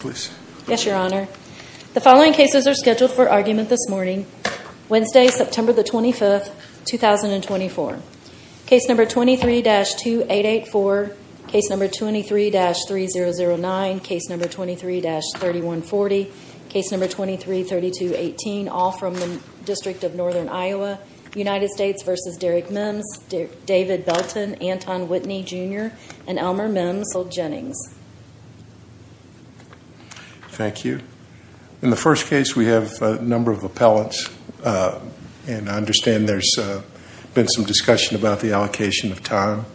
The following cases are scheduled for argument this morning, Wednesday, September 25, 2024. Case number 23-2884, case number 23-3009, case number 23-3140, case number 23-3218, all from the District of Northern Iowa, United States v. Derek Mims, David Belton, Anton Whitney Jr., and Elmer Mims v. Jennings. Thank you. In the first case, we have a number of appellants, and I understand there's been some discussion about the allocation of time.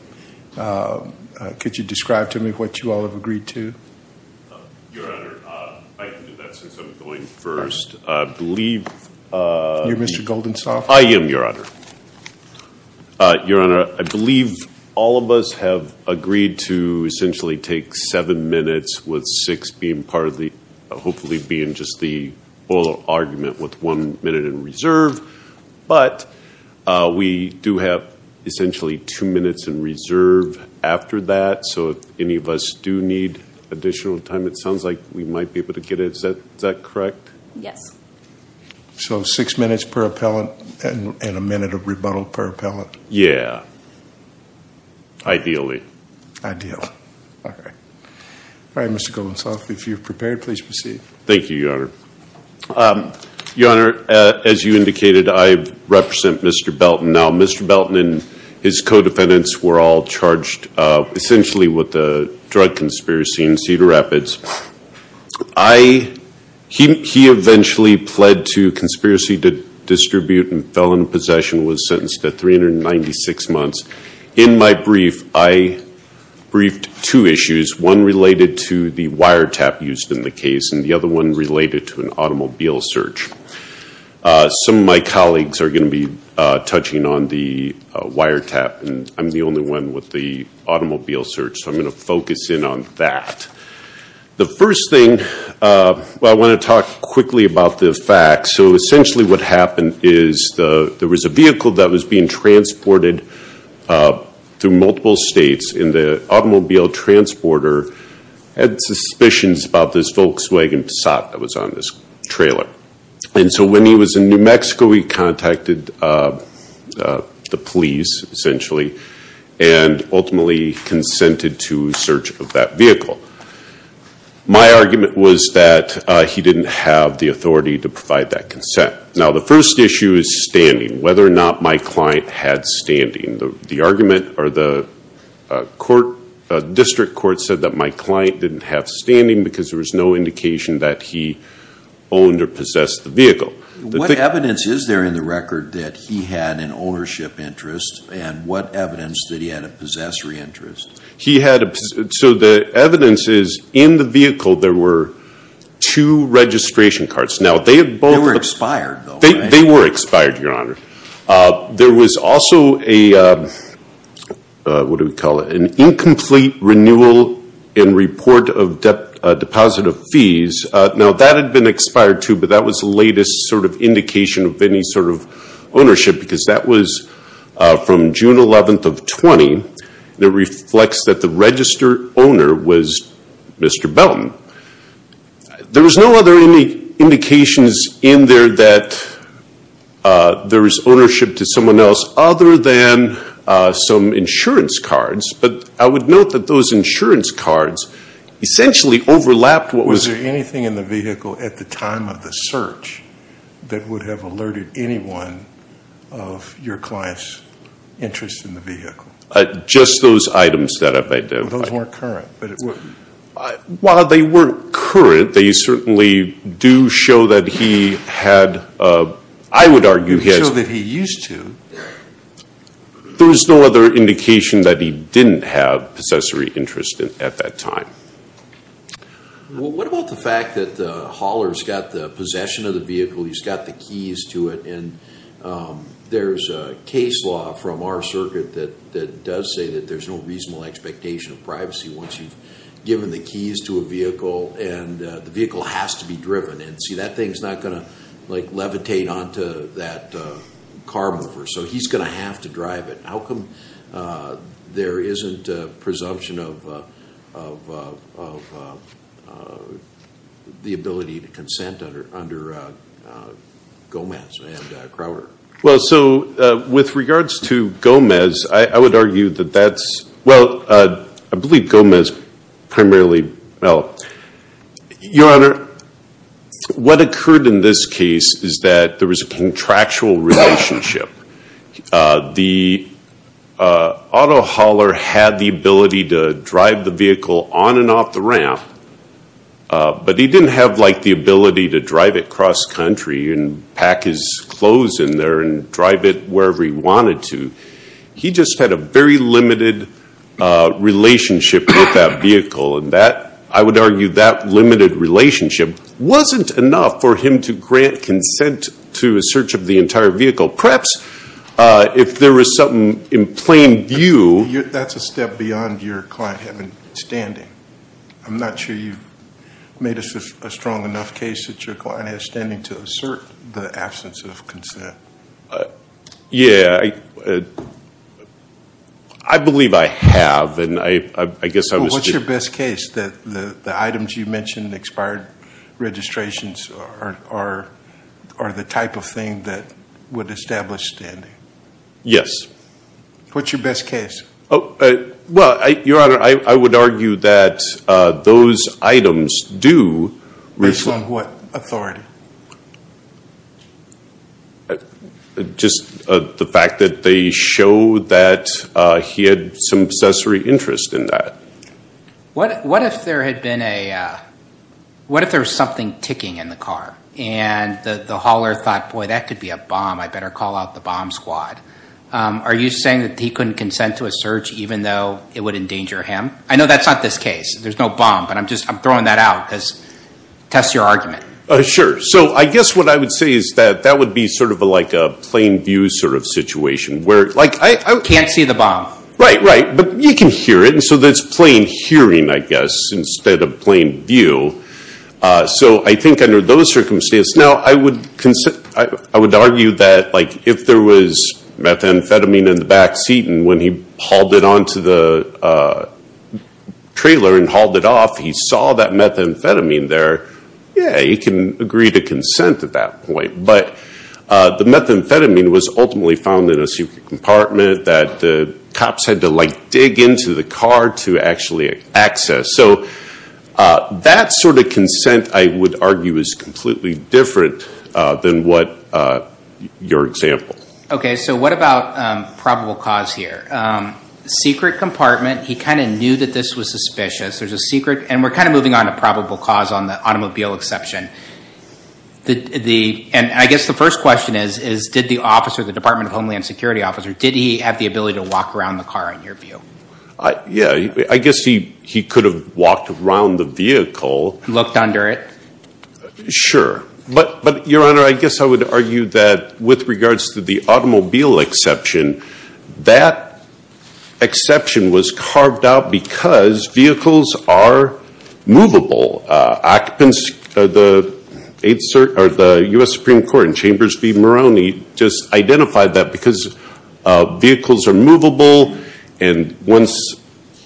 Could you describe to me what you all have agreed to? Your Honor, I can do that since I'm going first. I believe... You're Mr. Goldensoft? I am, Your Honor. Your Honor, I believe all of us have agreed to essentially take seven minutes, with six being part of the, hopefully being just the oral argument, with one minute in reserve. But we do have essentially two minutes in reserve after that, so if any of us do need additional time, it sounds like we might be able to get it. Is that correct? Yes. So six minutes per appellant, and a minute of rebuttal per appellant? Yeah. Ideally. All right, Mr. Goldensoft, if you're prepared, please proceed. Thank you, Your Honor. Your Honor, as you indicated, I represent Mr. Belton. Now, Mr. Belton and his co-defendants were all charged essentially with a drug conspiracy in Cedar Rapids. He eventually pled to conspiracy to distribute and fell into possession, was sentenced to 396 months. In my brief, I briefed two issues, one related to the wiretap used in the case, and the other one related to an automobile search. Some of my colleagues are going to be touching on the wiretap, and I'm the only one with the automobile search, so I'm going to focus in on that. The first thing, I want to talk quickly about the facts. So essentially what happened is there was a vehicle that was being transported through multiple states, and the automobile transporter had suspicions about this Volkswagen Passat that was on this trailer. And so when he was in New Mexico, he contacted the police, essentially, and ultimately consented to search of that vehicle. My argument was that he didn't have the authority to provide that consent. Now the first issue is standing, whether or not my client had standing. The argument or the district court said that my client didn't have standing because there was no indication that he owned or possessed the vehicle. What evidence is there in the record that he had an ownership interest, and what evidence that he had a possessory interest? He had a... So the evidence is in the vehicle there were two registration cards. Now they have both... They were expired though, right? They were expired, Your Honor. There was also a, what do we call it, an incomplete renewal and report of deposit of fees. Now that had been expired too, but that was the latest sort of indication of any sort of ownership because that was from June 11th of 20, and it reflects that the registered owner was Mr. Belton. There was no other indications in there that there was ownership to someone else other than some insurance cards, but I would note that those insurance cards essentially overlapped what was... Was there anything in the vehicle at the time of the search that would have alerted anyone of your client's interest in the vehicle? Just those items that I've identified. Those weren't current, but it would... While they weren't current, they certainly do show that he had... I would argue he has... They show that he used to. There was no other indication that he didn't have possessory interest at that time. What about the fact that the hauler's got the possession of the vehicle, he's got the keys to it, and there's a case law from our circuit that does say that there's no reasonable expectation of privacy once you've given the keys to a vehicle, and the vehicle has to be driven. See, that thing's not going to levitate onto that car mover, so he's going to have to drive it. How come there isn't a presumption of the ability to consent under Gomez and Crowder? Well, so with regards to Gomez, I would argue that that's... Well, I believe Gomez primarily... Well, Your Honor, what occurred in this case is that there was a contractual relationship. The auto hauler had the ability to drive the vehicle on and off the ramp, but he didn't have the ability to drive it cross-country and pack his clothes in there and drive it wherever he wanted to. He just had a very limited relationship with that vehicle. I would argue that limited relationship wasn't enough for him to grant consent to a search of the entire vehicle. Perhaps if there was something in plain view... That's a step beyond your client having standing. I'm not sure you've made a strong enough case that your client has standing to assert the absence of consent. Yeah, I believe I have, and I guess I was... What's your best case that the items you mentioned, expired registrations, are the type of thing that would establish standing? Yes. What's your best case? Well, Your Honor, I would argue that those items do... Based on what authority? Just the fact that they show that he had some accessory interest in that. What if there was something ticking in the car, and the hauler thought, boy, that could be a bomb. I better call out the bomb squad. Are you saying that he couldn't consent to a search, even though it would endanger him? I know that's not this case. There's no bomb, but I'm throwing that out, because it tests your argument. Sure. I guess what I would say is that that would be a plain view situation, where... I can't see the bomb. Right, right. But you can hear it, and so that's plain hearing, I guess, instead of plain view. So I think under those circumstances... Now, I would argue that if there was methamphetamine in the backseat, and when he hauled it onto the trailer and hauled it off, he saw that methamphetamine there, yeah, he can agree to consent at that point. But the methamphetamine was ultimately found in a secret compartment that the cops had to dig into the car to actually access. So that sort of consent, I would argue, is completely different than your example. So what about probable cause here? Secret compartment. He kind of knew that this was suspicious. There's a secret... And we're kind of moving on to probable cause on the automobile exception. I guess the first question is, did the officer, the Department of Homeland Security officer, did he have the ability to walk around the car, in your view? Yeah. I guess he could have walked around the vehicle. Looked under it. Sure. But, Your Honor, I guess I would argue that with regards to the automobile exception, that exception was carved out because vehicles are movable. Occupants of the U.S. Supreme Court in Chambers v. Moroney just identified that because vehicles are movable and once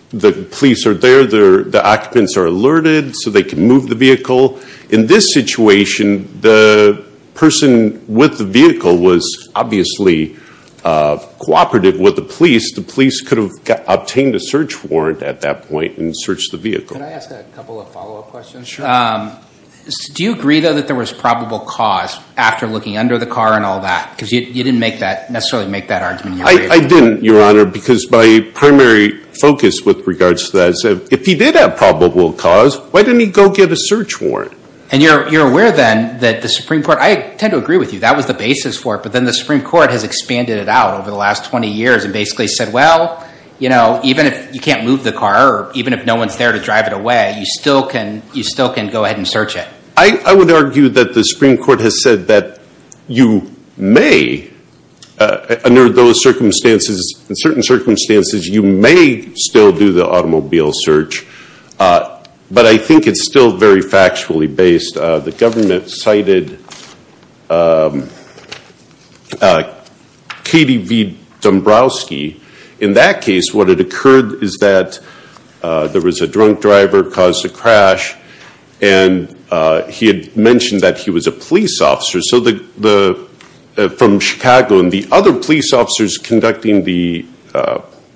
the police are there, the occupants are alerted so they can move the vehicle. In this situation, the person with the vehicle was obviously cooperative with the police. The police could have obtained a search warrant at that point and searched the vehicle. Can I ask a couple of follow-up questions? Do you agree, though, that there was probable cause after looking under the car and all that? Because you didn't necessarily make that argument. I didn't, Your Honor, because my primary focus with regards to that is if he did have probable cause, why didn't he go get a search warrant? And you're aware then that the Supreme Court, I tend to agree with you, that was the basis for it, but then the Supreme Court has expanded it out over the last 20 years and basically said, well, you know, even if you can't move the car or even if no one's there to drive it away, you still can go ahead and search it. I would argue that the Supreme Court has said that you may, under those circumstances, in certain circumstances, you may still do the automobile search, but I think it's still very factually based. The government cited Katie V. Dombrowski. In that case, what had occurred is that there was a drunk driver, caused a crash, and he had mentioned that he was a police officer from Chicago, and the other police officers conducting the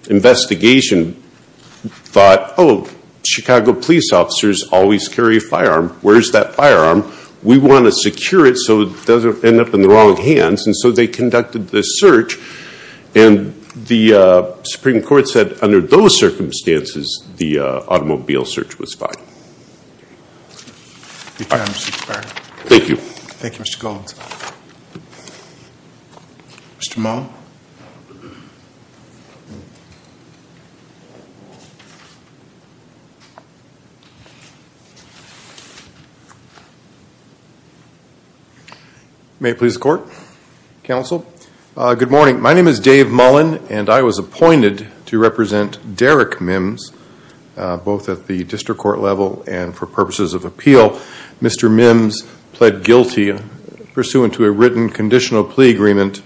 investigation thought, oh, Chicago police officers always carry a firearm. Where's that firearm? We want to secure it so it doesn't end up in the wrong hands, and so they conducted the search, and the Supreme Court said, under those circumstances, the automobile search was fine. Thank you. Thank you, Mr. Gold. Mr. Mahmoud. Good morning. My name is Dave Mullen, and I was appointed to represent Derek Mims, both at the district court level and for purposes of appeal. Mr. Mims pled guilty pursuant to a written conditional plea agreement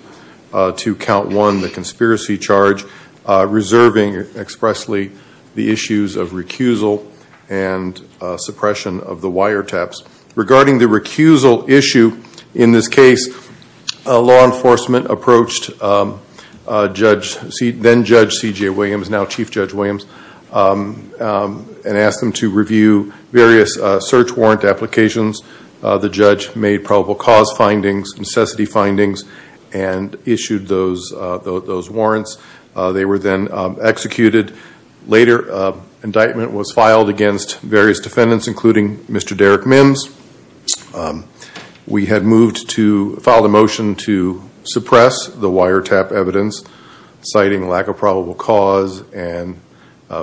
to count one, the conspiracy charge, reserving expressly the issues of recusal and suppression of the wire taps. Regarding the recusal issue in this case, law enforcement approached then-Judge C.J. Williams and asked them to review various search warrant applications. The judge made probable cause findings, necessity findings, and issued those warrants. They were then executed. Later, indictment was filed against various defendants, including Mr. Derek Mims. We had moved to file a motion to suppress the wire tap evidence, citing lack of probable cause and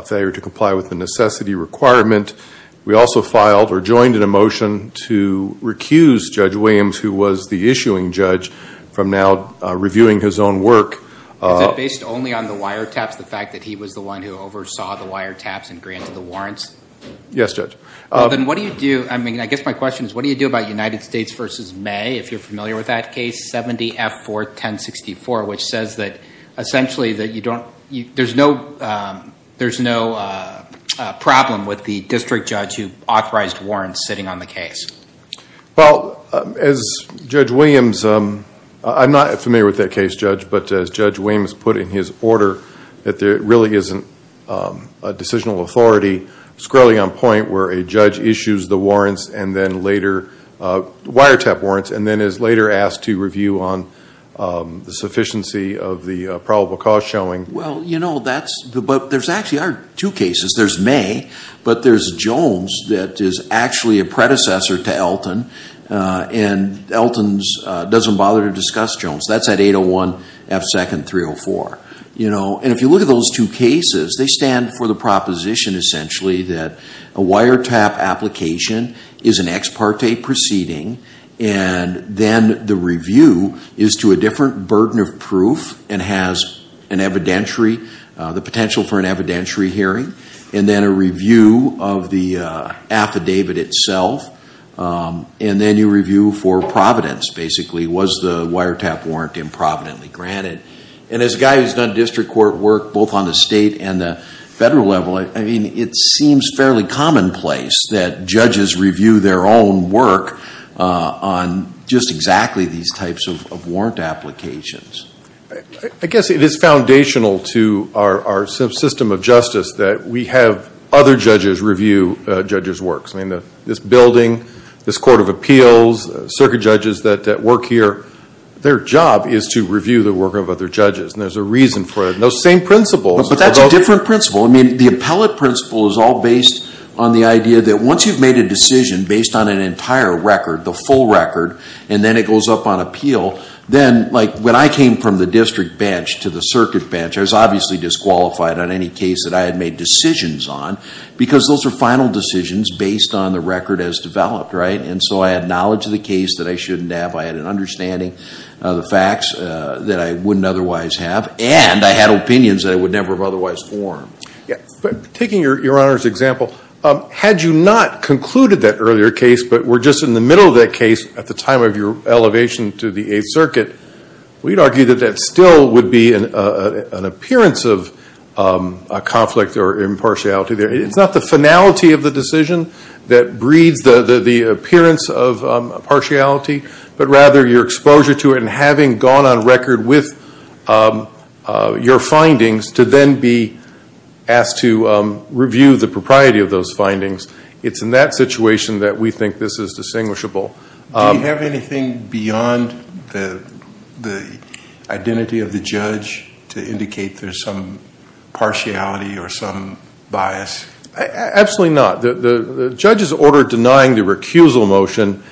failure to comply with the necessity requirement. We also filed or joined in a motion to recuse Judge Williams, who was the issuing judge, from now reviewing his own work. Is it based only on the wire taps, the fact that he was the one who oversaw the wire taps and granted the warrants? Yes, Judge. Well, then what do you do? I mean, I guess my question is, what do you do about United States v. May, if you're familiar with that case, 70-F-4-10-64, which says that, essentially, there's no problem with the district judge who authorized warrants sitting on the case? Well, as Judge Williams, I'm not familiar with that case, Judge, but as Judge Williams put in his order, that there really isn't a decisional authority squarely on point where a judge issues the warrants and then later, wire tap warrants, and then is later asked to review on the sufficiency of the probable cause showing. Well, you know, that's, but there actually are two cases. There's May, but there's Jones that is actually a predecessor to Elton, and Elton doesn't bother to discuss Jones. That's at 801-F-2-304, you know, and if you look at those two cases, they stand for the proposition, essentially, that a wire tap application is an ex parte proceeding, and then the review is to a different burden of proof and has an evidentiary, the potential for an evidentiary hearing, and then a review of the affidavit itself, and then you review for providence, basically. Was the wire tap warrant improvidently granted? And as a guy who's done district court work, both on the state and the federal level, I mean, it seems fairly commonplace that judges review their own work on just exactly these types of warrant applications. I guess it is foundational to our system of justice that we have other judges review judges' works. I mean, this building, this court of appeals, circuit judges that work here, their job is to review the work of other judges, and there's a reason for it. Those same principles. But that's a different principle. I mean, the appellate principle is all based on the idea that once you've made a decision based on an entire record, the full record, and then it goes up on appeal, then, like, when I came from the district bench to the circuit bench, I was obviously disqualified on any case that I had made decisions on because those are final decisions based on the record as developed, right? And so I had knowledge of the case that I shouldn't have. I had an understanding of the facts that I wouldn't otherwise have, and I had opinions that I would never have otherwise formed. But taking your Honor's example, had you not concluded that earlier case but were just in the middle of that case at the time of your elevation to the Eighth Circuit, we'd argue that that still would be an appearance of a conflict or impartiality there. It's not the finality of the decision that breeds the appearance of impartiality, but rather your exposure to it and having gone on record with your findings to then be asked to review the propriety of those findings. It's in that situation that we think this is distinguishable. Do you have anything beyond the identity of the judge to indicate there's some partiality or some bias? Absolutely not. The judge's order denying the recusal motion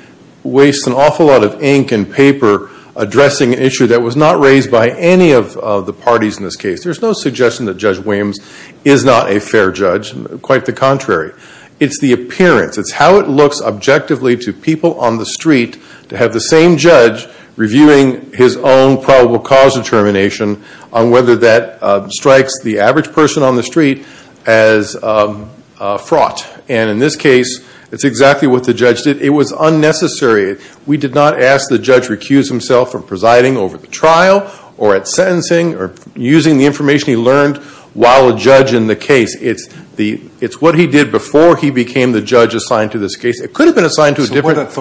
wastes an awful lot of ink and paper addressing an issue that was not raised by any of the parties in this case. There's no suggestion that Judge Williams is not a fair judge, quite the contrary. It's the appearance. It's how it looks objectively to people on the street to have the same judge reviewing his own probable cause determination on whether that strikes the average person on the street as fraught. In this case, it's exactly what the judge did. It was unnecessary. We did not ask the judge recuse himself from presiding over the trial or at sentencing or using the information he learned while a judge in the case. It's what he did before he became the judge assigned to this case. It could have been assigned to a different-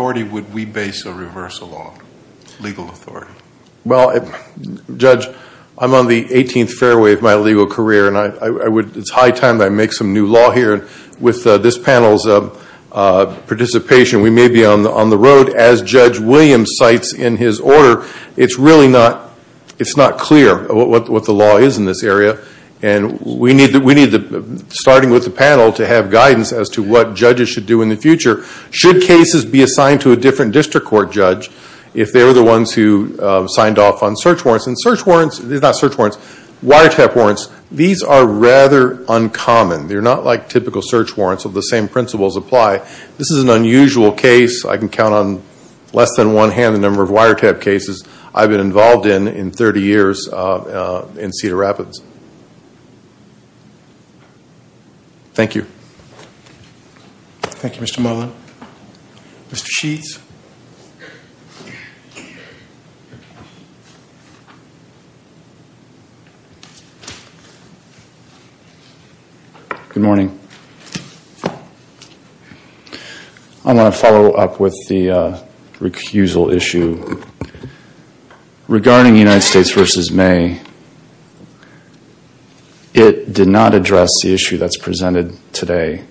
Well, Judge, I'm on the 18th fairway of my legal career and it's high time that I make some new law here. With this panel's participation, we may be on the road. As Judge Williams cites in his order, it's really not clear what the law is in this area. We need, starting with the panel, to have guidance as to what judges should do in the future. Should cases be assigned to a different district court judge if they were the ones who signed off on search warrants? And search warrants, not search warrants, wiretap warrants, these are rather uncommon. They're not like typical search warrants where the same principles apply. This is an unusual case. I can count on less than one hand the number of wiretap cases I've been involved in in 30 years in Cedar Rapids. Thank you. Thank you, Mr. Marlin. Mr. Sheets? Good morning. I want to follow up with the recusal issue. Regarding United States v. May, it did not address the issue that's presented today.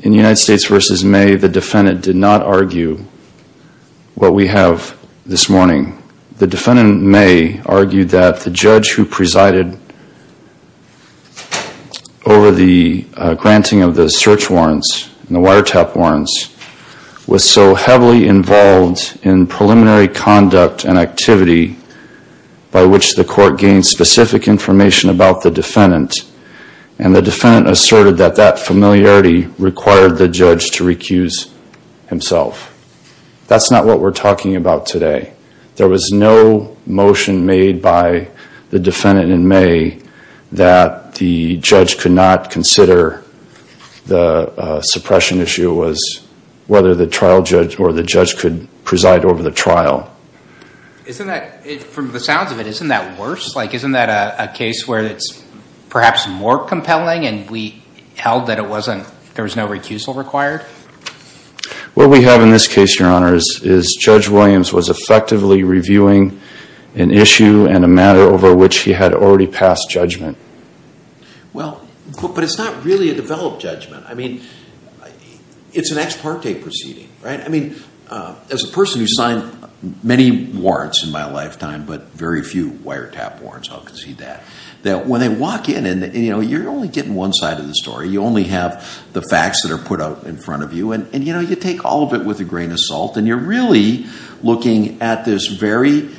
In United States v. May, the defendant did not argue what we have this morning. The defendant, May, argued that the judge who presided over the granting of the search warrants and the wiretap warrants was so heavily involved in preliminary conduct and activity by which the court gained specific information about the defendant. And the defendant asserted that that familiarity required the judge to recuse himself. That's not what we're talking about today. There was no motion made by the defendant in May that the judge could not consider the suppression issue was whether the trial judge or the judge could preside over the trial. Isn't that, from the sounds of it, isn't that worse? Like, isn't that a case where it's perhaps more compelling and we held that it wasn't, there was no recusal required? What we have in this case, Your Honor, is Judge Williams was effectively reviewing an issue and a matter over which he had already passed judgment. Well, but it's not really a developed judgment. I mean, it's an ex parte proceeding, right? I mean, as a person who signed many warrants in my lifetime, but very few wiretap warrants, I'll concede that, that when they walk in and, you know, you're only getting one side of the story, you only have the facts that are put out in front of you and, you know, you take all of it with a grain of salt and you're really looking at this very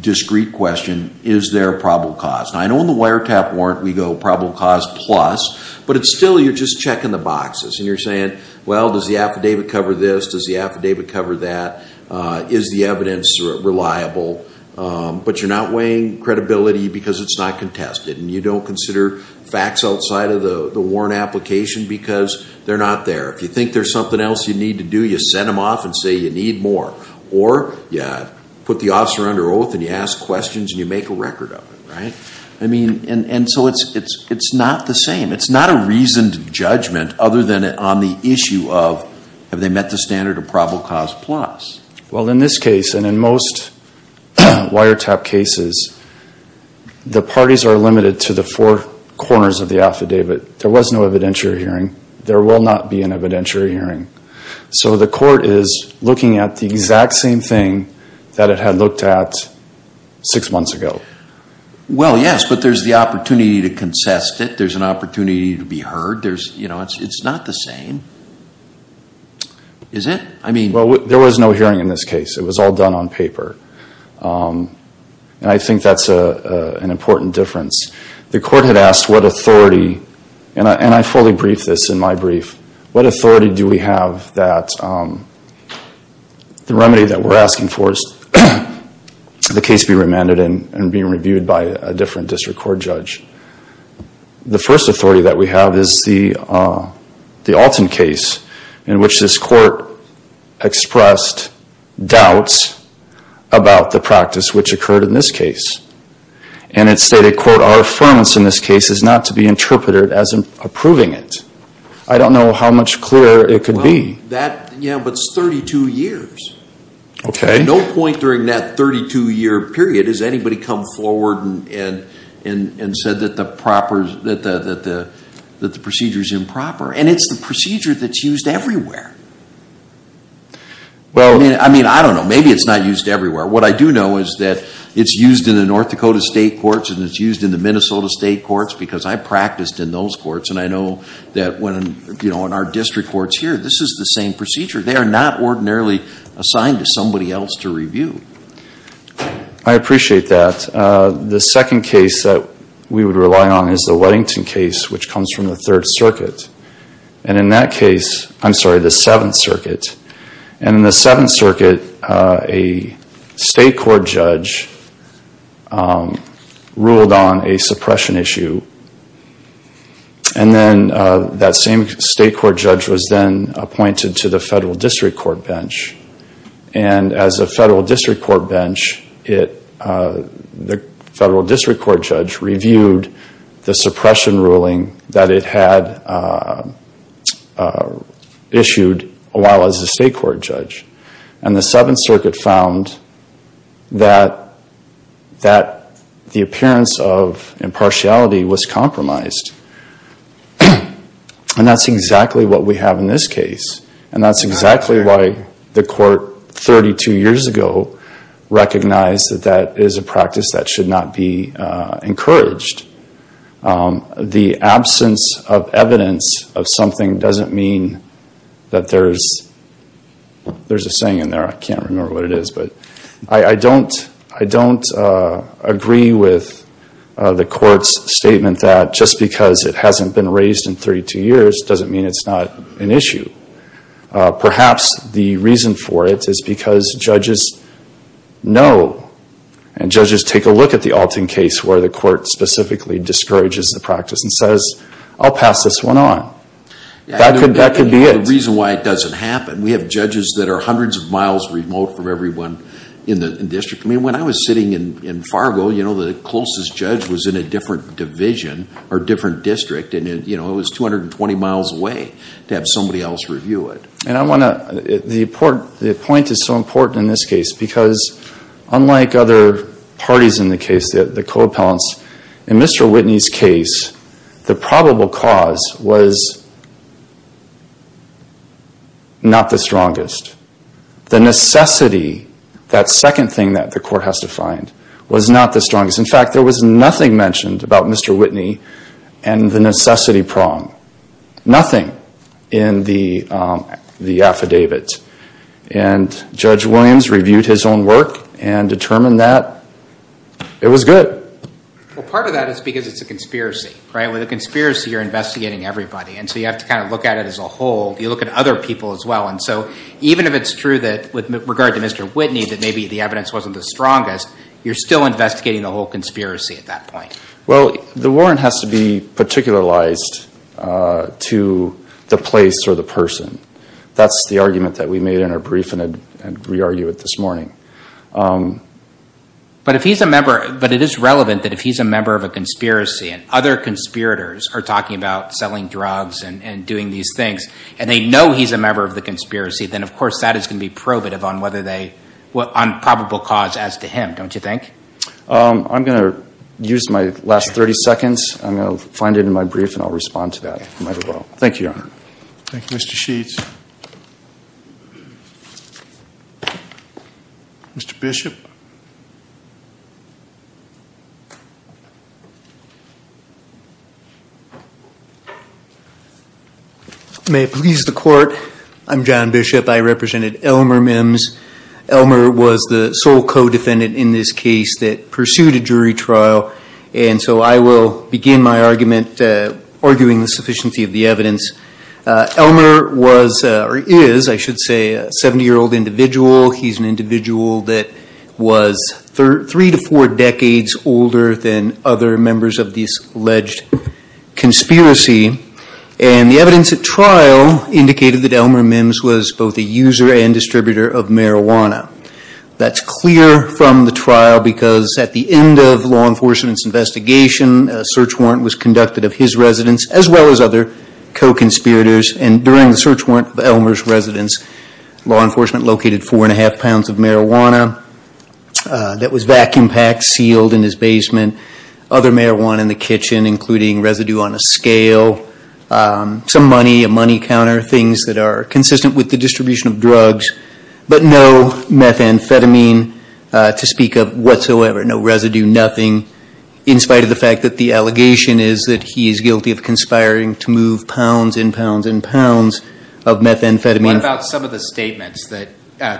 discreet question, is there probable cause? Now, I know in the wiretap warrant we go probable cause plus, but it's still, you're just checking the boxes and you're saying, well, does the affidavit cover this? Does the affidavit cover that? Is the evidence reliable? But you're not weighing credibility because it's not contested and you don't consider facts outside of the warrant application because they're not there. If you think there's something else you need to do, you send them off and say you need more. Or you put the officer under oath and you ask questions and you make a record of it, right? I mean, and so it's not the same. It's not a reasoned judgment other than on the issue of have they met the standard of probable cause plus. Well, in this case and in most wiretap cases, the parties are limited to the four corners of the affidavit. There was no evidentiary hearing. There will not be an evidentiary hearing. So the court is looking at the exact same thing that it had looked at six months ago. Well, yes, but there's the opportunity to contest it. There's an opportunity to be heard. There's, you know, it's not the same. Is it? Well, there was no hearing in this case. It was all done on paper. And I think that's an important difference. The court had asked what authority, and I fully briefed this in my brief, what authority do we have that the remedy that we're asking for is the case be remanded and be reviewed by a different district court judge. The first authority that we have is the Alton case in which this court expressed doubts about the practice which occurred in this case. And it stated, quote, our affirmance in this case is not to be interpreted as approving it. I don't know how much clearer it could be. Well, that, yeah, but it's 32 years. Okay. At no point during that 32-year period has anybody come forward and said that the procedure is improper. And it's the procedure that's used everywhere. Well, I mean, I don't know. Maybe it's not used everywhere. What I do know is that it's used in the North Dakota state courts and it's used in the Minnesota state courts because I practiced in those courts. And I know that when, you know, in our district courts here, this is the same procedure. They are not ordinarily assigned to somebody else to review. I appreciate that. The second case that we would rely on is the Weddington case which comes from the Third Circuit. And in that case, I'm sorry, the Seventh Circuit. And in the Seventh Circuit, a state court judge ruled on a suppression issue. And then that same state court judge was then appointed to the federal district court bench. And as a federal district court bench, the federal district court judge reviewed the suppression ruling that it had issued a while as a state court judge. And the Seventh Circuit found that the appearance of impartiality was compromised. And that's exactly what we have in this case. And that's exactly why the court 32 years ago recognized that that is a practice that should not be encouraged. The absence of evidence of something doesn't mean that there's a saying in there. I can't remember what it is, but I don't agree with the court's statement that just because it hasn't been raised in 32 years doesn't mean it's not an issue. Perhaps the reason for it is because judges know and judges take a look at the Alton case where the court specifically discourages the practice and says, I'll pass this one on. That could be it. The reason why it doesn't happen, we have judges that are hundreds of miles remote from everyone in the district. I mean, when I was sitting in Fargo, you know, the closest judge was in a different division or different district. And, you know, it was 220 miles away to have somebody else review it. And I want to, the point is so important in this case because unlike other parties in the case, the co-appellants, in Mr. Whitney's case, the probable cause was not the strongest. The necessity, that second thing that the court has to find, was not the strongest. In fact, there was nothing mentioned about Mr. Whitney and the necessity prong. Nothing in the affidavit. And Judge Williams reviewed his own work and determined that it was good. Well, part of that is because it's a conspiracy, right? With a conspiracy, you're investigating everybody. And so you have to kind of look at it as a whole. You look at other people as well. And so even if it's true that with regard to Mr. Whitney, that maybe the evidence wasn't the strongest, you're still investigating the whole conspiracy at that point. Well, the warrant has to be particularized to the place or the person. That's the argument that we made in our brief, and I'd re-argue it this morning. But if he's a member, but it is relevant that if he's a member of a conspiracy, and other conspirators are talking about selling drugs and doing these things, and they know he's a member of the conspiracy, then of course, that is going to be probative on whether they, on probable cause as to him, don't you think? I'm going to use my last 30 seconds. I'm going to find it in my brief, and I'll respond to that if I might as well. Thank you, Your Honor. Thank you, Mr. Sheets. Mr. Bishop. May it please the court. I'm John Bishop. I represented Elmer Mims. Elmer was the sole co-defendant in this case that pursued a jury trial. And so I will begin my argument arguing the sufficiency of the evidence. Elmer was, or is, I should say, a 70-year-old individual. He's an individual that was three to four decades older than other members of this alleged conspiracy. And the evidence at trial indicated that Elmer Mims was both a user and distributor of marijuana. That's clear from the trial because at the end of law enforcement's investigation, a search warrant was conducted of his residence as well as other co-conspirators. And during the search warrant of Elmer's residence, law enforcement located four and a half pounds of marijuana that was vacuum packed, sealed in his basement. Other marijuana in the kitchen, including residue on a scale, some money, a money counter, things that are consistent with the distribution of drugs. But no methamphetamine to speak of whatsoever. No residue, nothing. In spite of the fact that the allegation is that he is guilty of conspiring to move pounds and pounds and pounds of methamphetamine. What about some of the statements that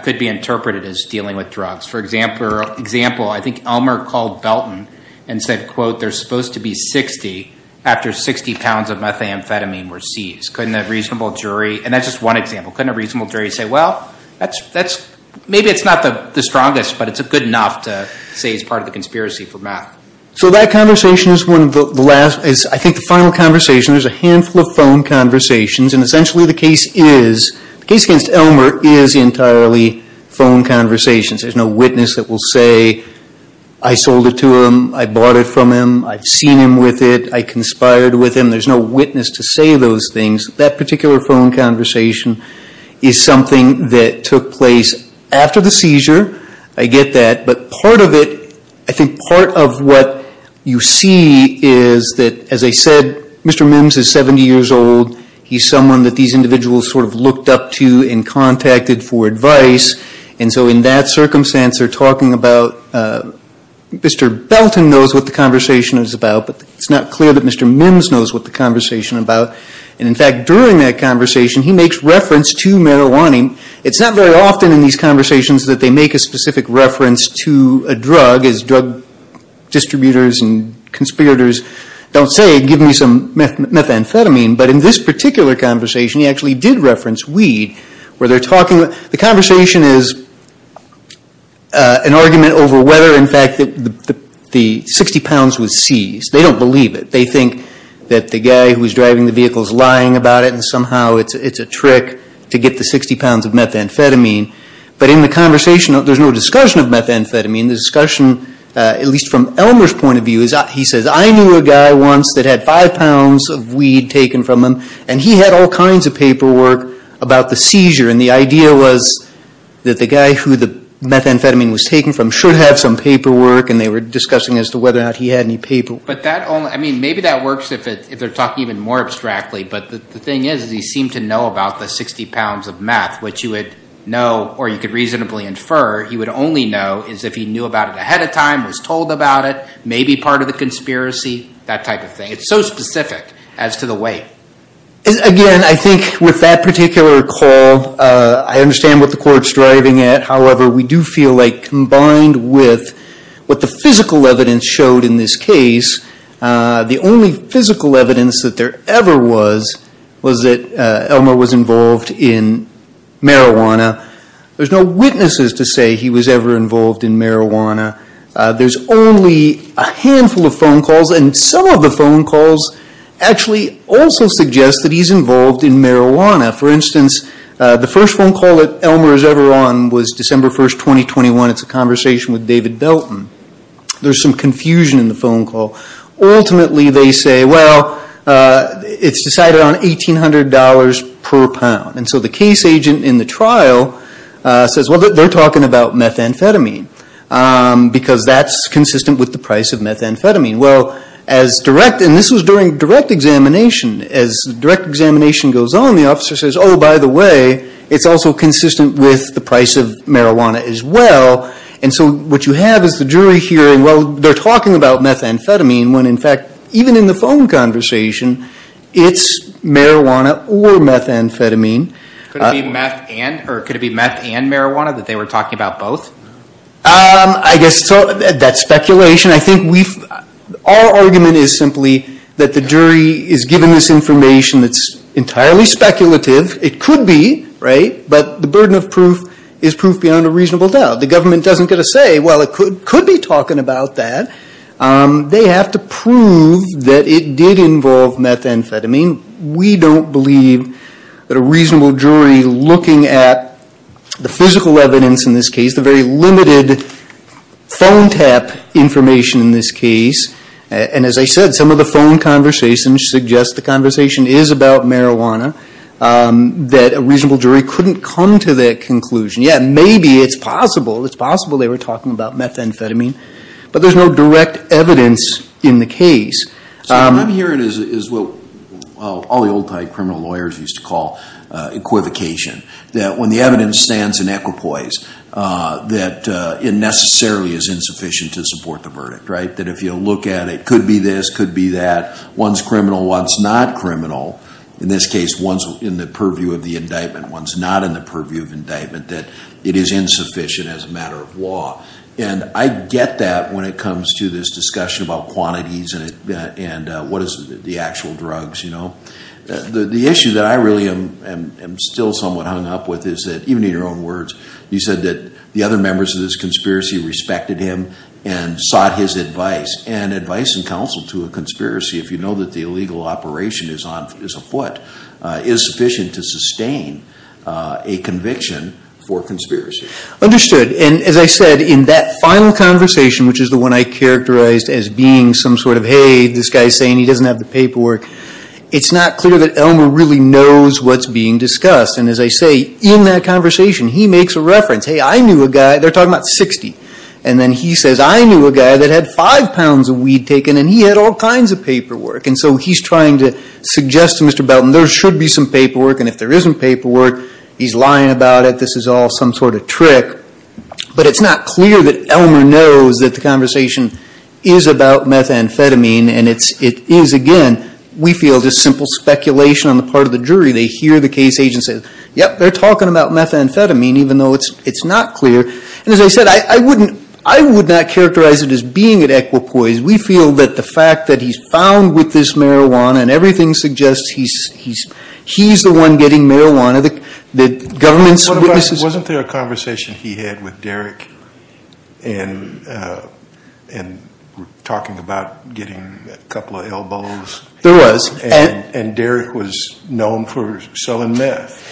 could be interpreted as dealing with drugs? For example, I think Elmer called Belton and said, quote, there's supposed to be 60 after 60 pounds of methamphetamine were seized. Couldn't a reasonable jury, and that's just one example. Couldn't a reasonable jury say, well, maybe it's not the strongest, but it's good enough to say it's part of the conspiracy for math. So that conversation is one of the last, I think, the final conversation. There's a handful of phone conversations. And essentially the case is, the case against Elmer is entirely phone conversations. There's no witness that will say, I sold it to him, I bought it from him, I've seen him with it, I conspired with him. There's no witness to say those things. That particular phone conversation is something that took place after the seizure. I get that, but part of it, I think part of what you see is that, as I said, Mr. Mims is 70 years old. He's someone that these individuals sort of looked up to and contacted for advice. And so in that circumstance, they're talking about, Mr. Belton knows what the conversation is about, but it's not clear that Mr. Mims knows what the conversation is about. And in fact, during that conversation, he makes reference to marijuana. It's not very often in these conversations that they make a specific reference to a drug, as drug distributors and conspirators don't say, give me some methamphetamine. But in this particular conversation, he actually did reference weed, where they're talking. The conversation is an argument over whether, in fact, the 60 pounds was seized. They don't believe it. They think that the guy who's driving the vehicle is lying about it, and somehow it's a trick to get the 60 pounds of methamphetamine. But in the conversation, there's no discussion of methamphetamine. The discussion, at least from Elmer's point of view, he says, I knew a guy once that had five pounds of weed taken from him. And he had all kinds of paperwork about the seizure. And the idea was that the guy who the methamphetamine was taken from should have some paperwork, and they were discussing as to whether or not he had any paperwork. But that only, I mean, maybe that works if they're talking even more abstractly. But the thing is, is he seemed to know about the 60 pounds of meth, which you would know or you could reasonably infer. You would only know is if he knew about it ahead of time, was told about it, may be part of the conspiracy, that type of thing. It's so specific as to the weight. Again, I think with that particular call, I understand what the court's driving at. However, we do feel like combined with what the physical evidence showed in this case, the only physical evidence that there ever was, was that Elmer was involved in marijuana. There's no witnesses to say he was ever involved in marijuana. There's only a handful of phone calls, and some of the phone calls actually also suggest that he's involved in marijuana. For instance, the first phone call that Elmer was ever on was December 1st, 2021. It's a conversation with David Belton. There's some confusion in the phone call. Ultimately, they say, well, it's decided on $1,800 per pound. And so the case agent in the trial says, well, they're talking about methamphetamine. Because that's consistent with the price of methamphetamine. Well, as direct, and this was during direct examination. As direct examination goes on, the officer says, by the way, it's also consistent with the price of marijuana as well. And so what you have is the jury hearing, well, they're talking about methamphetamine, when in fact, even in the phone conversation, it's marijuana or methamphetamine. Could it be meth and marijuana that they were talking about both? I guess that's speculation. I think our argument is simply that the jury is given this information that's entirely speculative. It could be, right? But the burden of proof is proof beyond a reasonable doubt. The government doesn't get to say, well, it could be talking about that. They have to prove that it did involve methamphetamine. We don't believe that a reasonable jury looking at the physical evidence in this case, gives the very limited phone tap information in this case. And as I said, some of the phone conversations suggest the conversation is about marijuana. That a reasonable jury couldn't come to that conclusion. Yeah, maybe it's possible, it's possible they were talking about methamphetamine. But there's no direct evidence in the case. So what I'm hearing is what all the old time criminal lawyers used to call equivocation. That when the evidence stands in equipoise, that it necessarily is insufficient to support the verdict, right? That if you look at it, could be this, could be that. One's criminal, one's not criminal. In this case, one's in the purview of the indictment. One's not in the purview of indictment. That it is insufficient as a matter of law. And I get that when it comes to this discussion about quantities and what is the actual drugs, you know? The issue that I really am still somewhat hung up with is that, even in your own words, you said that the other members of this conspiracy respected him and sought his advice. And advice and counsel to a conspiracy, if you know that the illegal operation is afoot, is sufficient to sustain a conviction for conspiracy. Understood, and as I said, in that final conversation, which is the one I characterized as being some sort of, hey, this guy's saying he doesn't have the paperwork, it's not clear that Elmer really knows what's being discussed. And as I say, in that conversation, he makes a reference. Hey, I knew a guy, they're talking about 60. And then he says, I knew a guy that had five pounds of weed taken, and he had all kinds of paperwork. And so he's trying to suggest to Mr. Belton, there should be some paperwork. And if there isn't paperwork, he's lying about it, this is all some sort of trick. But it's not clear that Elmer knows that the conversation is about methamphetamine, and it is, again, we feel just simple speculation on the part of the jury, they hear the case agent say, yep, they're talking about methamphetamine, even though it's not clear. And as I said, I would not characterize it as being an equipoise. We feel that the fact that he's found with this marijuana, and everything suggests he's the one getting marijuana, the government's witnesses- Wasn't there a conversation he had with Derek, and we're talking about getting a couple of elbows? There was. And Derek was known for selling meth.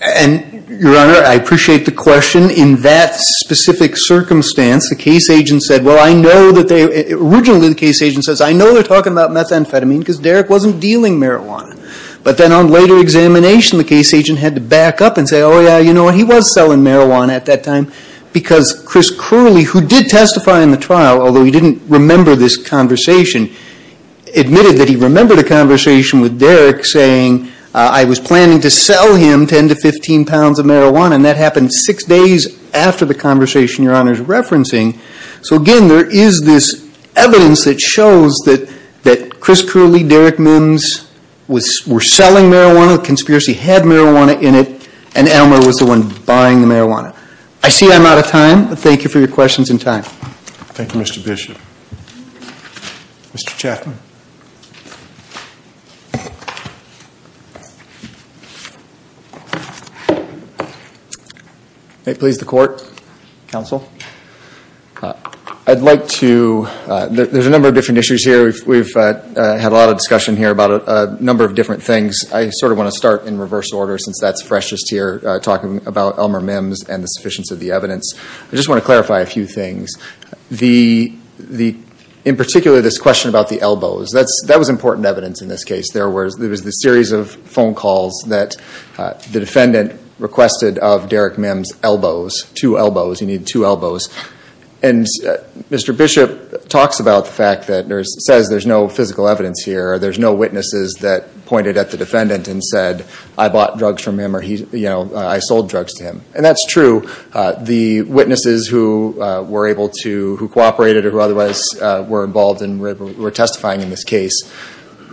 And, your honor, I appreciate the question. In that specific circumstance, the case agent said, well, I know that they, originally the case agent says, I know they're talking about methamphetamine, because Derek wasn't dealing marijuana. But then on later examination, the case agent had to back up and say, oh, yeah, you know what, he was selling marijuana at that time, because Chris Curley, who did testify in the trial, although he didn't remember this conversation, admitted that he remembered a conversation with Derek saying, I was planning to sell him 10 to 15 pounds of marijuana, and that happened six days after the conversation your honor's referencing. So again, there is this evidence that shows that Chris Curley, Derek Mims were selling marijuana, the conspiracy had marijuana in it, and Elmer was the one buying the marijuana. I see I'm out of time, but thank you for your questions and time. Thank you, Mr. Bishop. Mr. Chapman. May it please the court, counsel. I'd like to, there's a number of different issues here. We've had a lot of discussion here about a number of different things. I sort of want to start in reverse order, since that's freshest here, talking about Elmer Mims and the sufficiency of the evidence. I just want to clarify a few things. The, in particular, this question about the elbows, that was important evidence in this case. There was this series of phone calls that the defendant requested of Derek Mims' elbows, two elbows, he needed two elbows. And Mr. Bishop talks about the fact that, or says there's no physical evidence here, there's no witnesses that pointed at the defendant and said, I bought drugs from him, or I sold drugs to him. And that's true, the witnesses who were able to, who cooperated or who otherwise were involved in, were testifying in this case,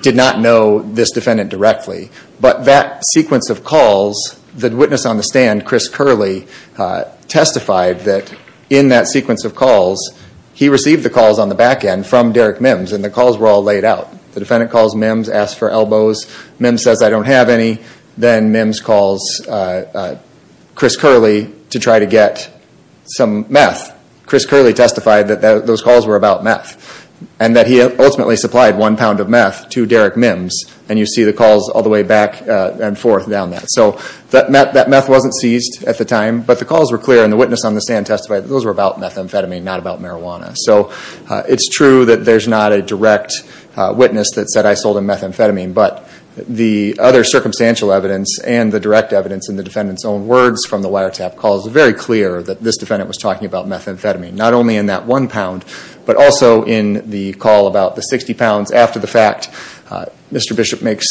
did not know this defendant directly. But that sequence of calls, the witness on the stand, Chris Curley, testified that in that sequence of calls, he received the calls on the back end from Derek Mims, and the calls were all laid out. The defendant calls Mims, asks for elbows. Mims says, I don't have any. Then Mims calls Chris Curley to try to get some meth. Chris Curley testified that those calls were about meth. And that he ultimately supplied one pound of meth to Derek Mims, and you see the calls all the way back and forth down that. So that meth wasn't seized at the time, but the calls were clear, and the witness on the stand testified that those were about methamphetamine, not about marijuana. So it's true that there's not a direct witness that said, I sold him methamphetamine. But the other circumstantial evidence and the direct evidence in the defendant's own words from the wiretap calls were very clear that this defendant was talking about methamphetamine. Not only in that one pound, but also in the call about the 60 pounds after the fact. Mr. Bishop makes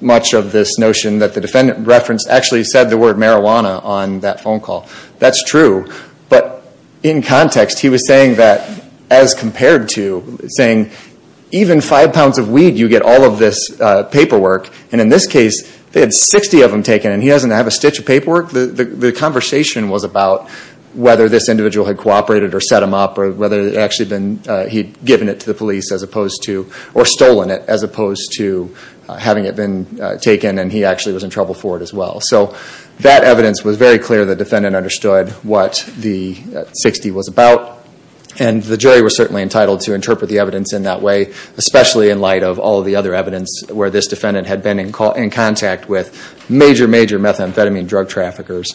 much of this notion that the defendant referenced actually said the word marijuana on that phone call. That's true, but in context, he was saying that as compared to, saying even five pounds of weed, you get all of this paperwork. And in this case, they had 60 of them taken, and he doesn't have a stitch of paperwork. The conversation was about whether this individual had cooperated or set him up, or whether he'd actually given it to the police as opposed to, or stolen it, as opposed to having it been taken, and he actually was in trouble for it as well. So that evidence was very clear that the defendant understood what the 60 was about. And the jury was certainly entitled to interpret the evidence in that way, especially in light of all the other evidence where this defendant had been in contact with major, major methamphetamine drug traffickers,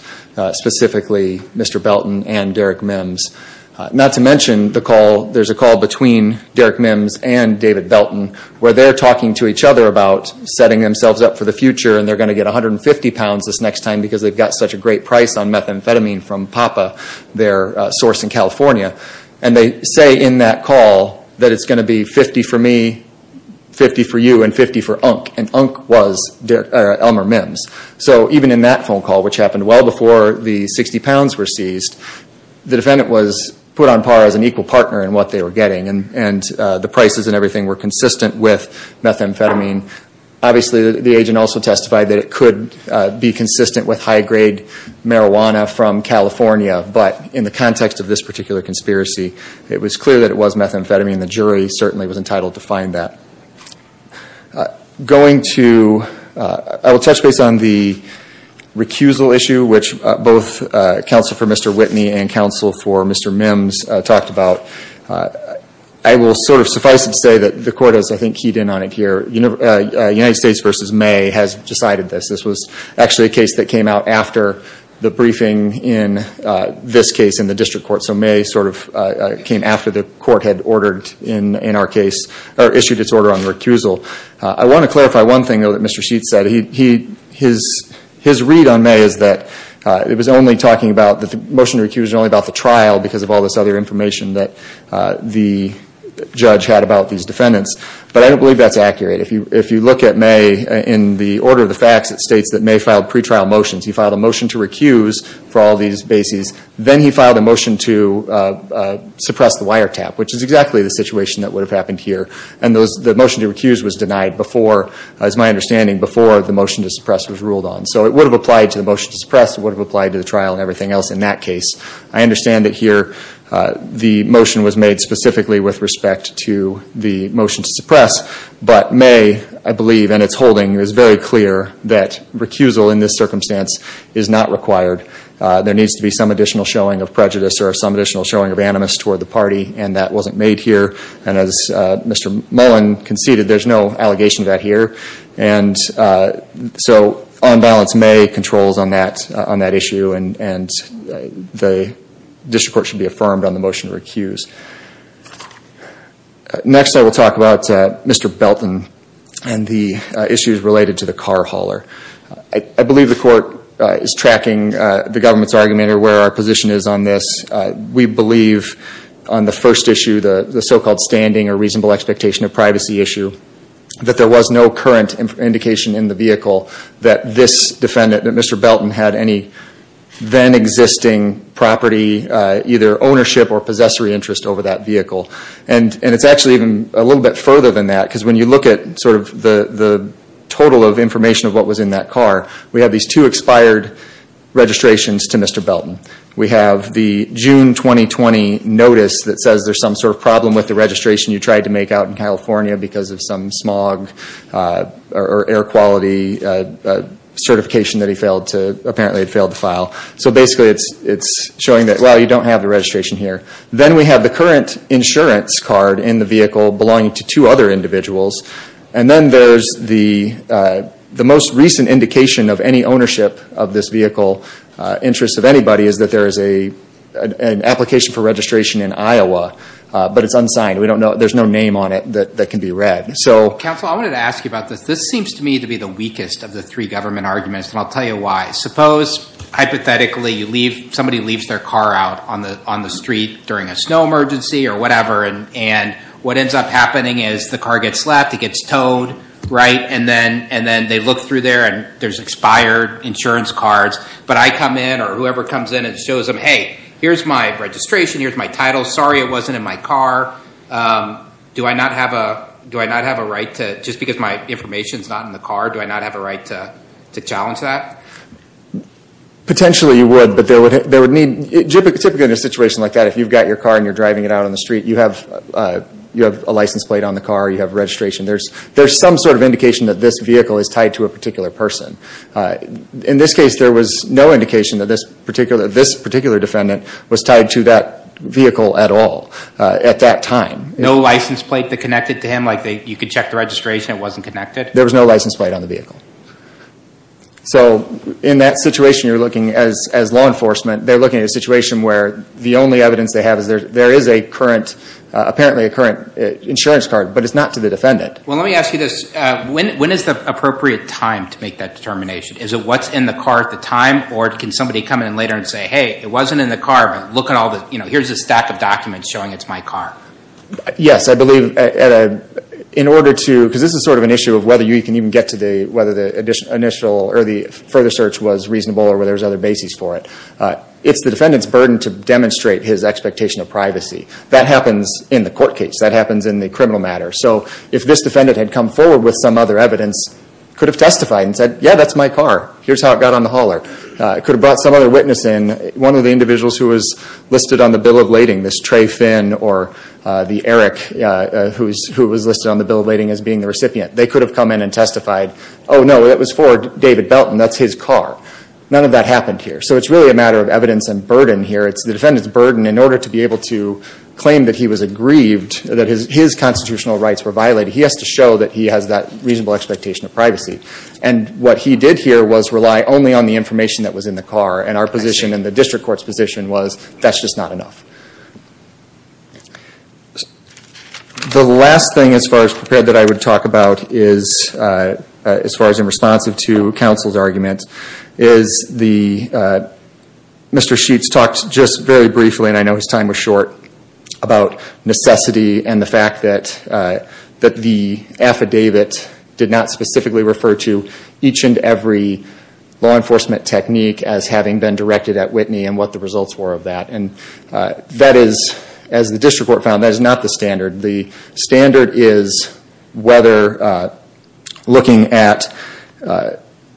specifically Mr. Belton and Derek Mims. Not to mention the call, there's a call between Derek Mims and David Belton, where they're talking to each other about setting themselves up for the future and they're going to get 150 pounds this next time because they've got such a great price on methamphetamine from PAPA, their source in California, and they say in that call that it's going to be 50 for me, 50 for you, and 50 for Unk, and Unk was Elmer Mims. So even in that phone call, which happened well before the 60 pounds were seized, the defendant was put on par as an equal partner in what they were getting, and the prices and everything were consistent with methamphetamine. Obviously, the agent also testified that it could be consistent with high-grade marijuana from California, but in the context of this particular conspiracy, it was clear that it was methamphetamine. The jury certainly was entitled to find that. Going to, I will touch base on the recusal issue, which both counsel for Mr. Whitney and counsel for Mr. Mims talked about. I will sort of suffice it to say that the court has, I think, keyed in on it here. United States versus May has decided this. This was actually a case that came out after the briefing in this case in the district court. So May sort of came after the court had ordered in our case, or issued its order on the recusal. I want to clarify one thing, though, that Mr. Sheets said. His read on May is that it was only talking about, that the motion to recuse was only about the trial because of all this other information that the judge had about these defendants. But I don't believe that's accurate. If you look at May, in the order of the facts, it states that May filed pre-trial motions. He filed a motion to recuse for all these bases. Then he filed a motion to suppress the wiretap, which is exactly the situation that would have happened here. And the motion to recuse was denied before, as my understanding, before the motion to suppress was ruled on. So it would have applied to the motion to suppress. It would have applied to the trial and everything else in that case. I understand that here the motion was made specifically with respect to the motion to suppress. But May, I believe, and its holding is very clear that recusal in this circumstance is not required. There needs to be some additional showing of prejudice or some additional showing of animus toward the party, and that wasn't made here. And as Mr. Mullen conceded, there's no allegation to that here. And so, on balance, May controls on that issue, and the district court should be affirmed on the motion to recuse. Next I will talk about Mr. Belton and the issues related to the car hauler. I believe the court is tracking the government's argument or where our position is on this. We believe on the first issue, the so-called standing or reasonable expectation of privacy issue, that there was no current indication in the vehicle that this defendant, that Mr. Belton had an existing property, either ownership or possessory interest over that vehicle. And it's actually even a little bit further than that, because when you look at sort of the total of information of what was in that car, we have these two expired registrations to Mr. Belton. We have the June 2020 notice that says there's some sort of problem with the registration you tried to make out in California because of some smog or air quality certification that he failed to, apparently had failed to file. So basically it's showing that, well, you don't have the registration here. Then we have the current insurance card in the vehicle belonging to two other individuals. And then there's the most recent indication of any ownership of this vehicle, interest of anybody, is that there is an application for registration in Iowa, but it's unsigned. We don't know, there's no name on it that can be read. So- Counsel, I wanted to ask you about this. This seems to me to be the weakest of the three government arguments, and I'll tell you why. Suppose, hypothetically, somebody leaves their car out on the street during a snow emergency or whatever. And what ends up happening is the car gets slapped, it gets towed, right? And then they look through there and there's expired insurance cards. But I come in, or whoever comes in and shows them, hey, here's my registration, here's my title, sorry it wasn't in my car. Do I not have a right to, just because my information's not in the car, do I not have a right to challenge that? Potentially you would, but there would need, typically in a situation like that, if you've got your car and you're driving it out on the street, you have a license plate on the car, you have registration. There's some sort of indication that this vehicle is tied to a particular person. In this case, there was no indication that this particular defendant was tied to that vehicle at all, at that time. No license plate that connected to him, like you could check the registration, it wasn't connected? There was no license plate on the vehicle. So, in that situation you're looking, as law enforcement, they're looking at a situation where the only evidence they have is there is a current, apparently a current insurance card, but it's not to the defendant. Well, let me ask you this. When is the appropriate time to make that determination? Is it what's in the car at the time, or can somebody come in later and say, hey, it wasn't in the car, but look at all the, you know, here's a stack of documents showing it's my car? Yes, I believe in order to, because this is sort of an issue of whether you can even get to the, whether the initial, or the further search was reasonable, or whether there's other basis for it. It's the defendant's burden to demonstrate his expectation of privacy. That happens in the court case. That happens in the criminal matter. So, if this defendant had come forward with some other evidence, could have testified and said, yeah, that's my car. Here's how it got on the hauler. Could have brought some other witness in, one of the individuals who was listed on the bill of lading, this Trey Finn or the Eric who was listed on the bill of lading as being the recipient. They could have come in and testified, oh, no, that was for David Belton. That's his car. None of that happened here. So, it's really a matter of evidence and burden here. It's the defendant's burden in order to be able to claim that he was aggrieved, that his constitutional rights were violated. He has to show that he has that reasonable expectation of privacy. And what he did here was rely only on the information that was in the car. And our position and the district court's position was that's just not enough. The last thing as far as prepared that I would talk about is, as far as in response to counsel's argument, is Mr. Sheets talked just very briefly, and I know his time was short, about necessity and the fact that the affidavit did not specifically refer to each and every law enforcement technique as having been directed at Whitney and what the results were of that. And that is, as the district court found, that is not the standard. The standard is whether looking at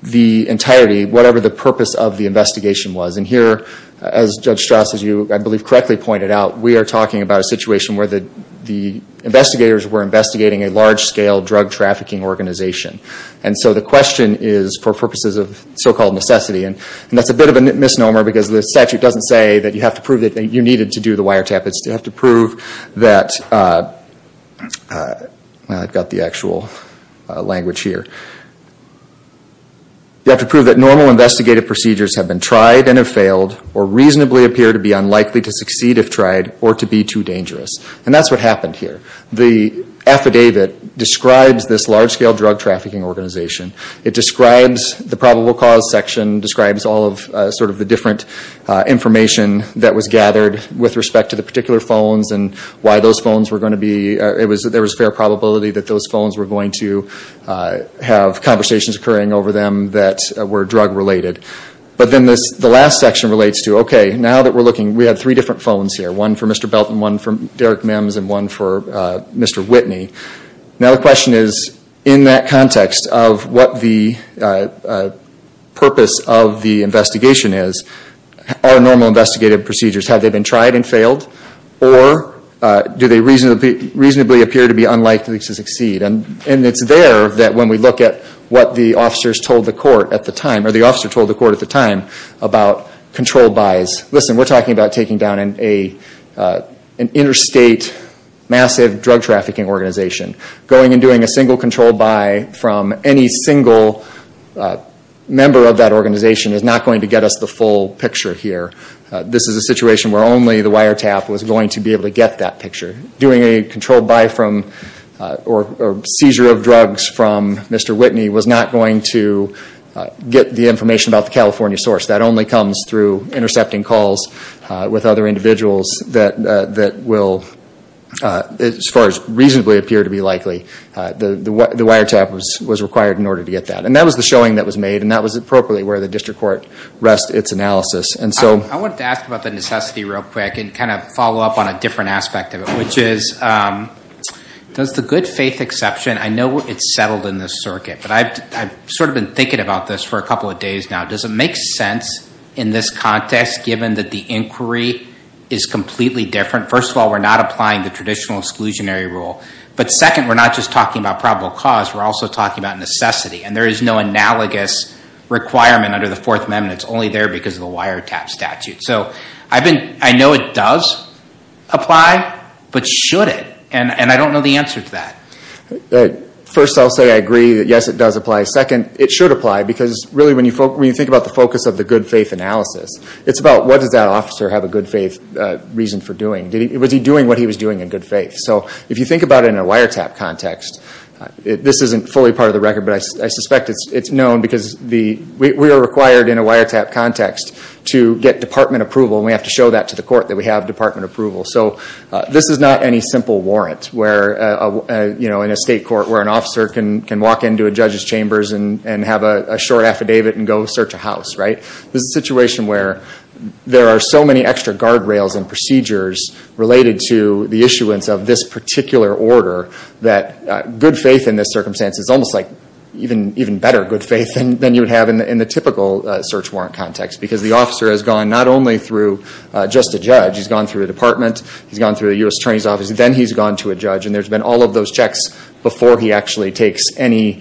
the entirety, whatever the purpose of the investigation was. And here, as Judge Strass, as you I believe correctly pointed out, we are talking about a situation where the investigators were investigating a large-scale drug trafficking organization. And so the question is, for purposes of so-called necessity, and that's a bit of a misnomer because the statute doesn't say that you have to prove that you needed to do the wiretap. It's you have to prove that, I've got the actual language here, you have to prove that normal investigative procedures have been tried and have failed or reasonably appear to be unlikely to succeed if tried or to be too dangerous. And that's what happened here. The affidavit describes this large-scale drug trafficking organization. It describes the probable cause section, describes all of sort of the different information that was gathered with respect to the particular phones and why those phones were going to be, there was a fair probability that those phones were going to have conversations occurring over them that were drug-related. But then the last section relates to, okay, now that we're looking, we have three different phones here. One for Mr. Belton, one for Derek Mims, and one for Mr. Whitney. Now the question is, in that context of what the purpose of the investigation is, are normal investigative procedures, have they been tried and failed? Or do they reasonably appear to be unlikely to succeed? And it's there that when we look at what the officers told the court at the time, or the officer told the court at the time, about control buys. Listen, we're talking about taking down an interstate, massive drug trafficking organization. Going and doing a single control buy from any single member of that organization is not going to get us the full picture here. This is a situation where only the wiretap was going to be able to get that picture. Doing a control buy from, or seizure of drugs from Mr. Whitney was not going to get the information about the California source. That only comes through intercepting calls with other individuals that will, as far as reasonably appear to be likely, the wiretap was required in order to get that. And that was the showing that was made, and that was appropriately where the district court rests its analysis. I wanted to ask about the necessity real quick, and kind of follow up on a different aspect of it, which is does the good faith exception, I know it's settled in this circuit, but I've sort of been thinking about this for a couple of days now. Does it make sense in this context, given that the inquiry is completely different? First of all, we're not applying the traditional exclusionary rule. But second, we're not just talking about probable cause. We're also talking about necessity. And there is no analogous requirement under the Fourth Amendment. It's only there because of the wiretap statute. So I know it does apply, but should it? And I don't know the answer to that. First, I'll say I agree that, yes, it does apply. Second, it should apply, because really when you think about the focus of the good faith analysis, it's about what does that officer have a good faith reason for doing. Was he doing what he was doing in good faith? So if you think about it in a wiretap context, this isn't fully part of the record, but I suspect it's known because we are required in a wiretap context to get department approval, and we have to show that to the court that we have department approval. So this is not any simple warrant in a state court where an officer can walk into a judge's chambers and have a short affidavit and go search a house. This is a situation where there are so many extra guardrails and procedures related to the issuance of this particular order that good faith in this circumstance is almost like even better good faith than you would have in the typical search warrant context, because the officer has gone not only through just a judge. He's gone through a department. He's gone through a U.S. attorney's office. Then he's gone to a judge, and there's been all of those checks before he actually takes any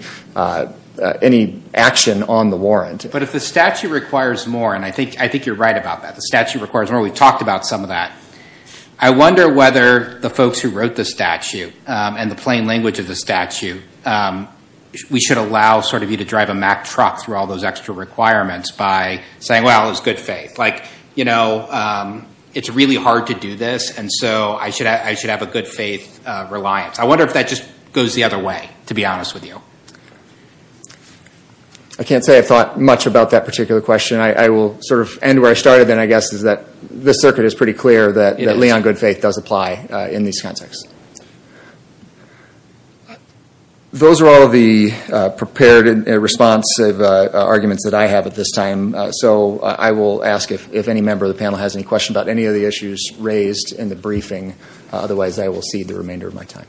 action on the warrant. But if the statute requires more, and I think you're right about that. The statute requires more. We've talked about some of that. I wonder whether the folks who wrote the statute and the plain language of the statute, we should allow sort of you to drive a Mack truck through all those extra requirements by saying, well, it's good faith. Like, you know, it's really hard to do this, and so I should have a good faith reliance. I wonder if that just goes the other way, to be honest with you. I can't say I've thought much about that particular question. I will sort of end where I started, then, I guess, is that this circuit is pretty clear that Leon good faith does apply in these contexts. Those are all of the prepared and responsive arguments that I have at this time. So I will ask if any member of the panel has any questions about any of the issues raised in the briefing. Otherwise, I will cede the remainder of my time.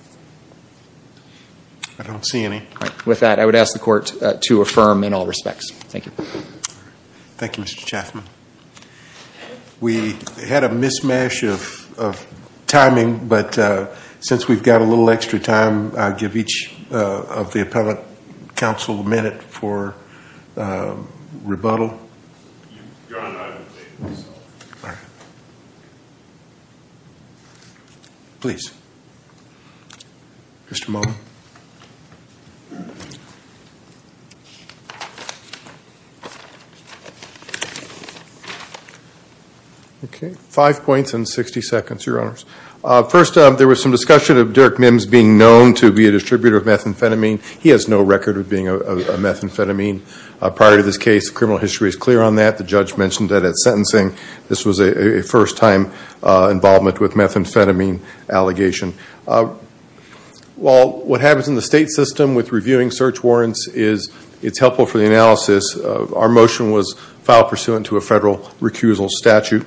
I don't see any. With that, I would ask the court to affirm in all respects. Thank you. Thank you, Mr. Chaffman. We had a mishmash of timing, but since we've got a little extra time, I'll give each of the appellate counsel a minute for rebuttal. You're on time. All right. Please. Mr. Moe. Okay. Five points and 60 seconds, Your Honors. First, there was some discussion of Derek Mims being known to be a distributor of methamphetamine. He has no record of being a methamphetamine. Prior to this case, criminal history is clear on that. The judge mentioned that at sentencing, this was a first-time involvement with methamphetamine allegation. While what happens in the state system with reviewing search warrants is it's helpful for the analysis, our motion was filed pursuant to a federal recusal statute.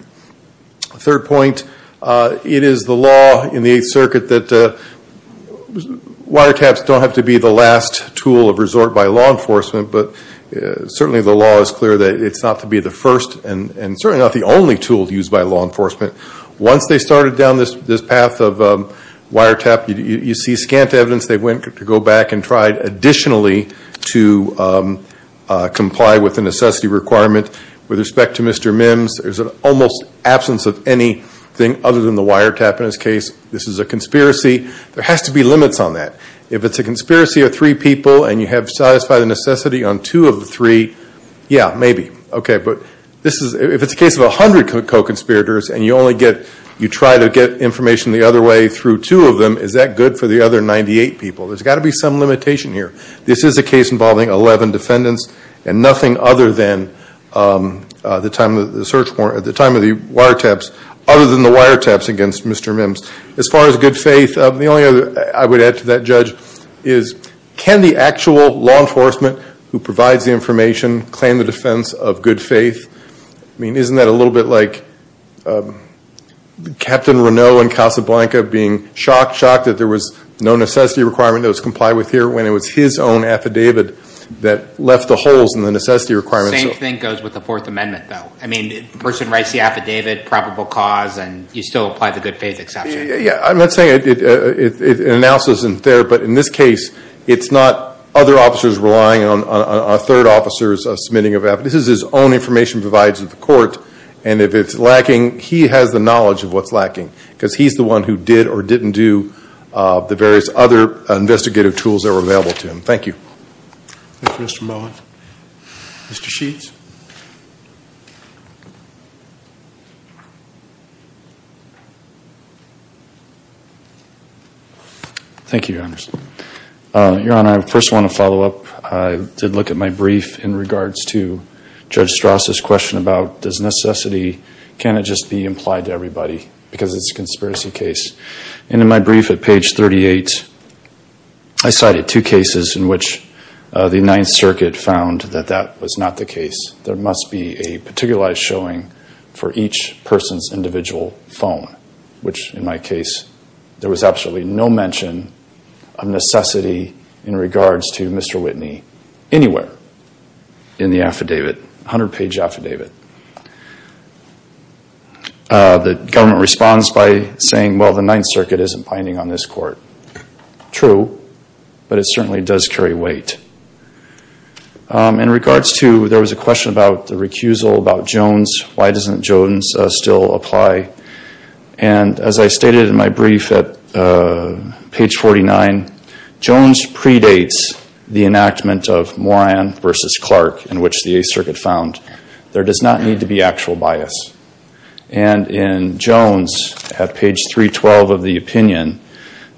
Third point, it is the law in the Eighth Circuit that water taps don't have to be the last tool of resort by law enforcement, but certainly the law is clear that it's not to be the first and certainly not the only tool used by law enforcement. Once they started down this path of wire tap, you see scant evidence. They went to go back and tried additionally to comply with the necessity requirement. With respect to Mr. Mims, there's an almost absence of anything other than the wire tap in this case. This is a conspiracy. There has to be limits on that. If it's a conspiracy of three people and you have satisfied the necessity on two of the three, yeah, maybe. Okay, but if it's a case of 100 co-conspirators and you try to get information the other way through two of them, is that good for the other 98 people? There's got to be some limitation here. This is a case involving 11 defendants and nothing other than the time of the wire taps against Mr. Mims. As far as good faith, the only other I would add to that, Judge, is can the actual law enforcement who provides the information claim the defense of good faith? I mean, isn't that a little bit like Captain Reneau in Casablanca being shocked, shocked that there was no necessity requirement that was complied with here when it was his own affidavit that left the holes in the necessity requirements? The same thing goes with the Fourth Amendment, though. I mean, the person writes the affidavit, probable cause, and you still apply the good faith exception. Yeah, I'm not saying it announces it there, but in this case, it's not other officers relying on a third officer's submitting of affidavit. This is his own information provided to the court, and if it's lacking, he has the knowledge of what's lacking because he's the one who did or didn't do the various other investigative tools that were available to him. Thank you. Thank you, Mr. Mullen. Mr. Sheets. Thank you, Your Honor. Your Honor, I first want to follow up. I did look at my brief in regards to Judge Strauss's question about does necessity, can it just be implied to everybody because it's a conspiracy case. And in my brief at page 38, I cited two cases in which the Ninth Circuit found that that was not the case. There must be a particularized showing for each person's individual phone, which in my case, there was absolutely no mention of necessity in regards to Mr. Whitney anywhere in the affidavit, 100-page affidavit. The government responds by saying, well, the Ninth Circuit isn't binding on this court. True, but it certainly does carry weight. In regards to, there was a question about the recusal, about Jones. Why doesn't Jones still apply? And as I stated in my brief at page 49, Jones predates the enactment of Moran v. Clark in which the Eighth Circuit found there does not need to be actual bias. And in Jones at page 312 of the opinion,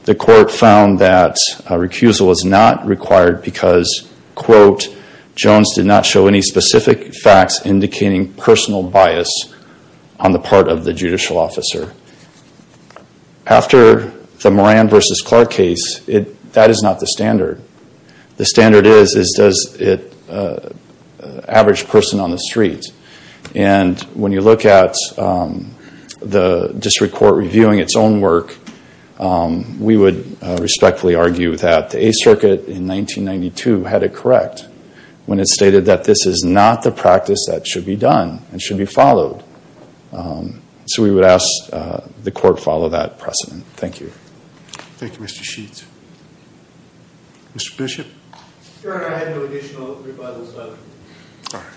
the court found that a recusal is not required because, quote, Jones did not show any specific facts indicating personal bias on the part of the judicial officer. After the Moran v. Clark case, that is not the standard. The standard is, is does it average person on the street? And when you look at the district court reviewing its own work, we would respectfully argue that the Eighth Circuit in 1992 had it correct when it stated that this is not the practice that should be done and should be followed. So we would ask the court follow that precedent. Thank you. Thank you, Mr. Sheets. Mr. Bishop? Your Honor, I have no additional rebuttals to offer. All right.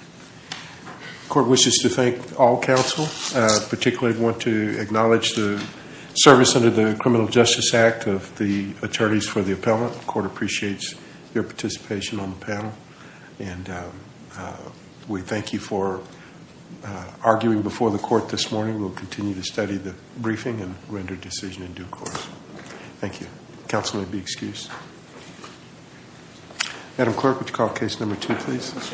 The court wishes to thank all counsel, particularly want to acknowledge the service under the Criminal Justice Act of the attorneys for the appellant. The court appreciates your participation on the panel. And we thank you for arguing before the court this morning. We'll continue to study the briefing and render decision in due course. Thank you. Counsel may be excused. Madam Clerk, would you call case number two, please?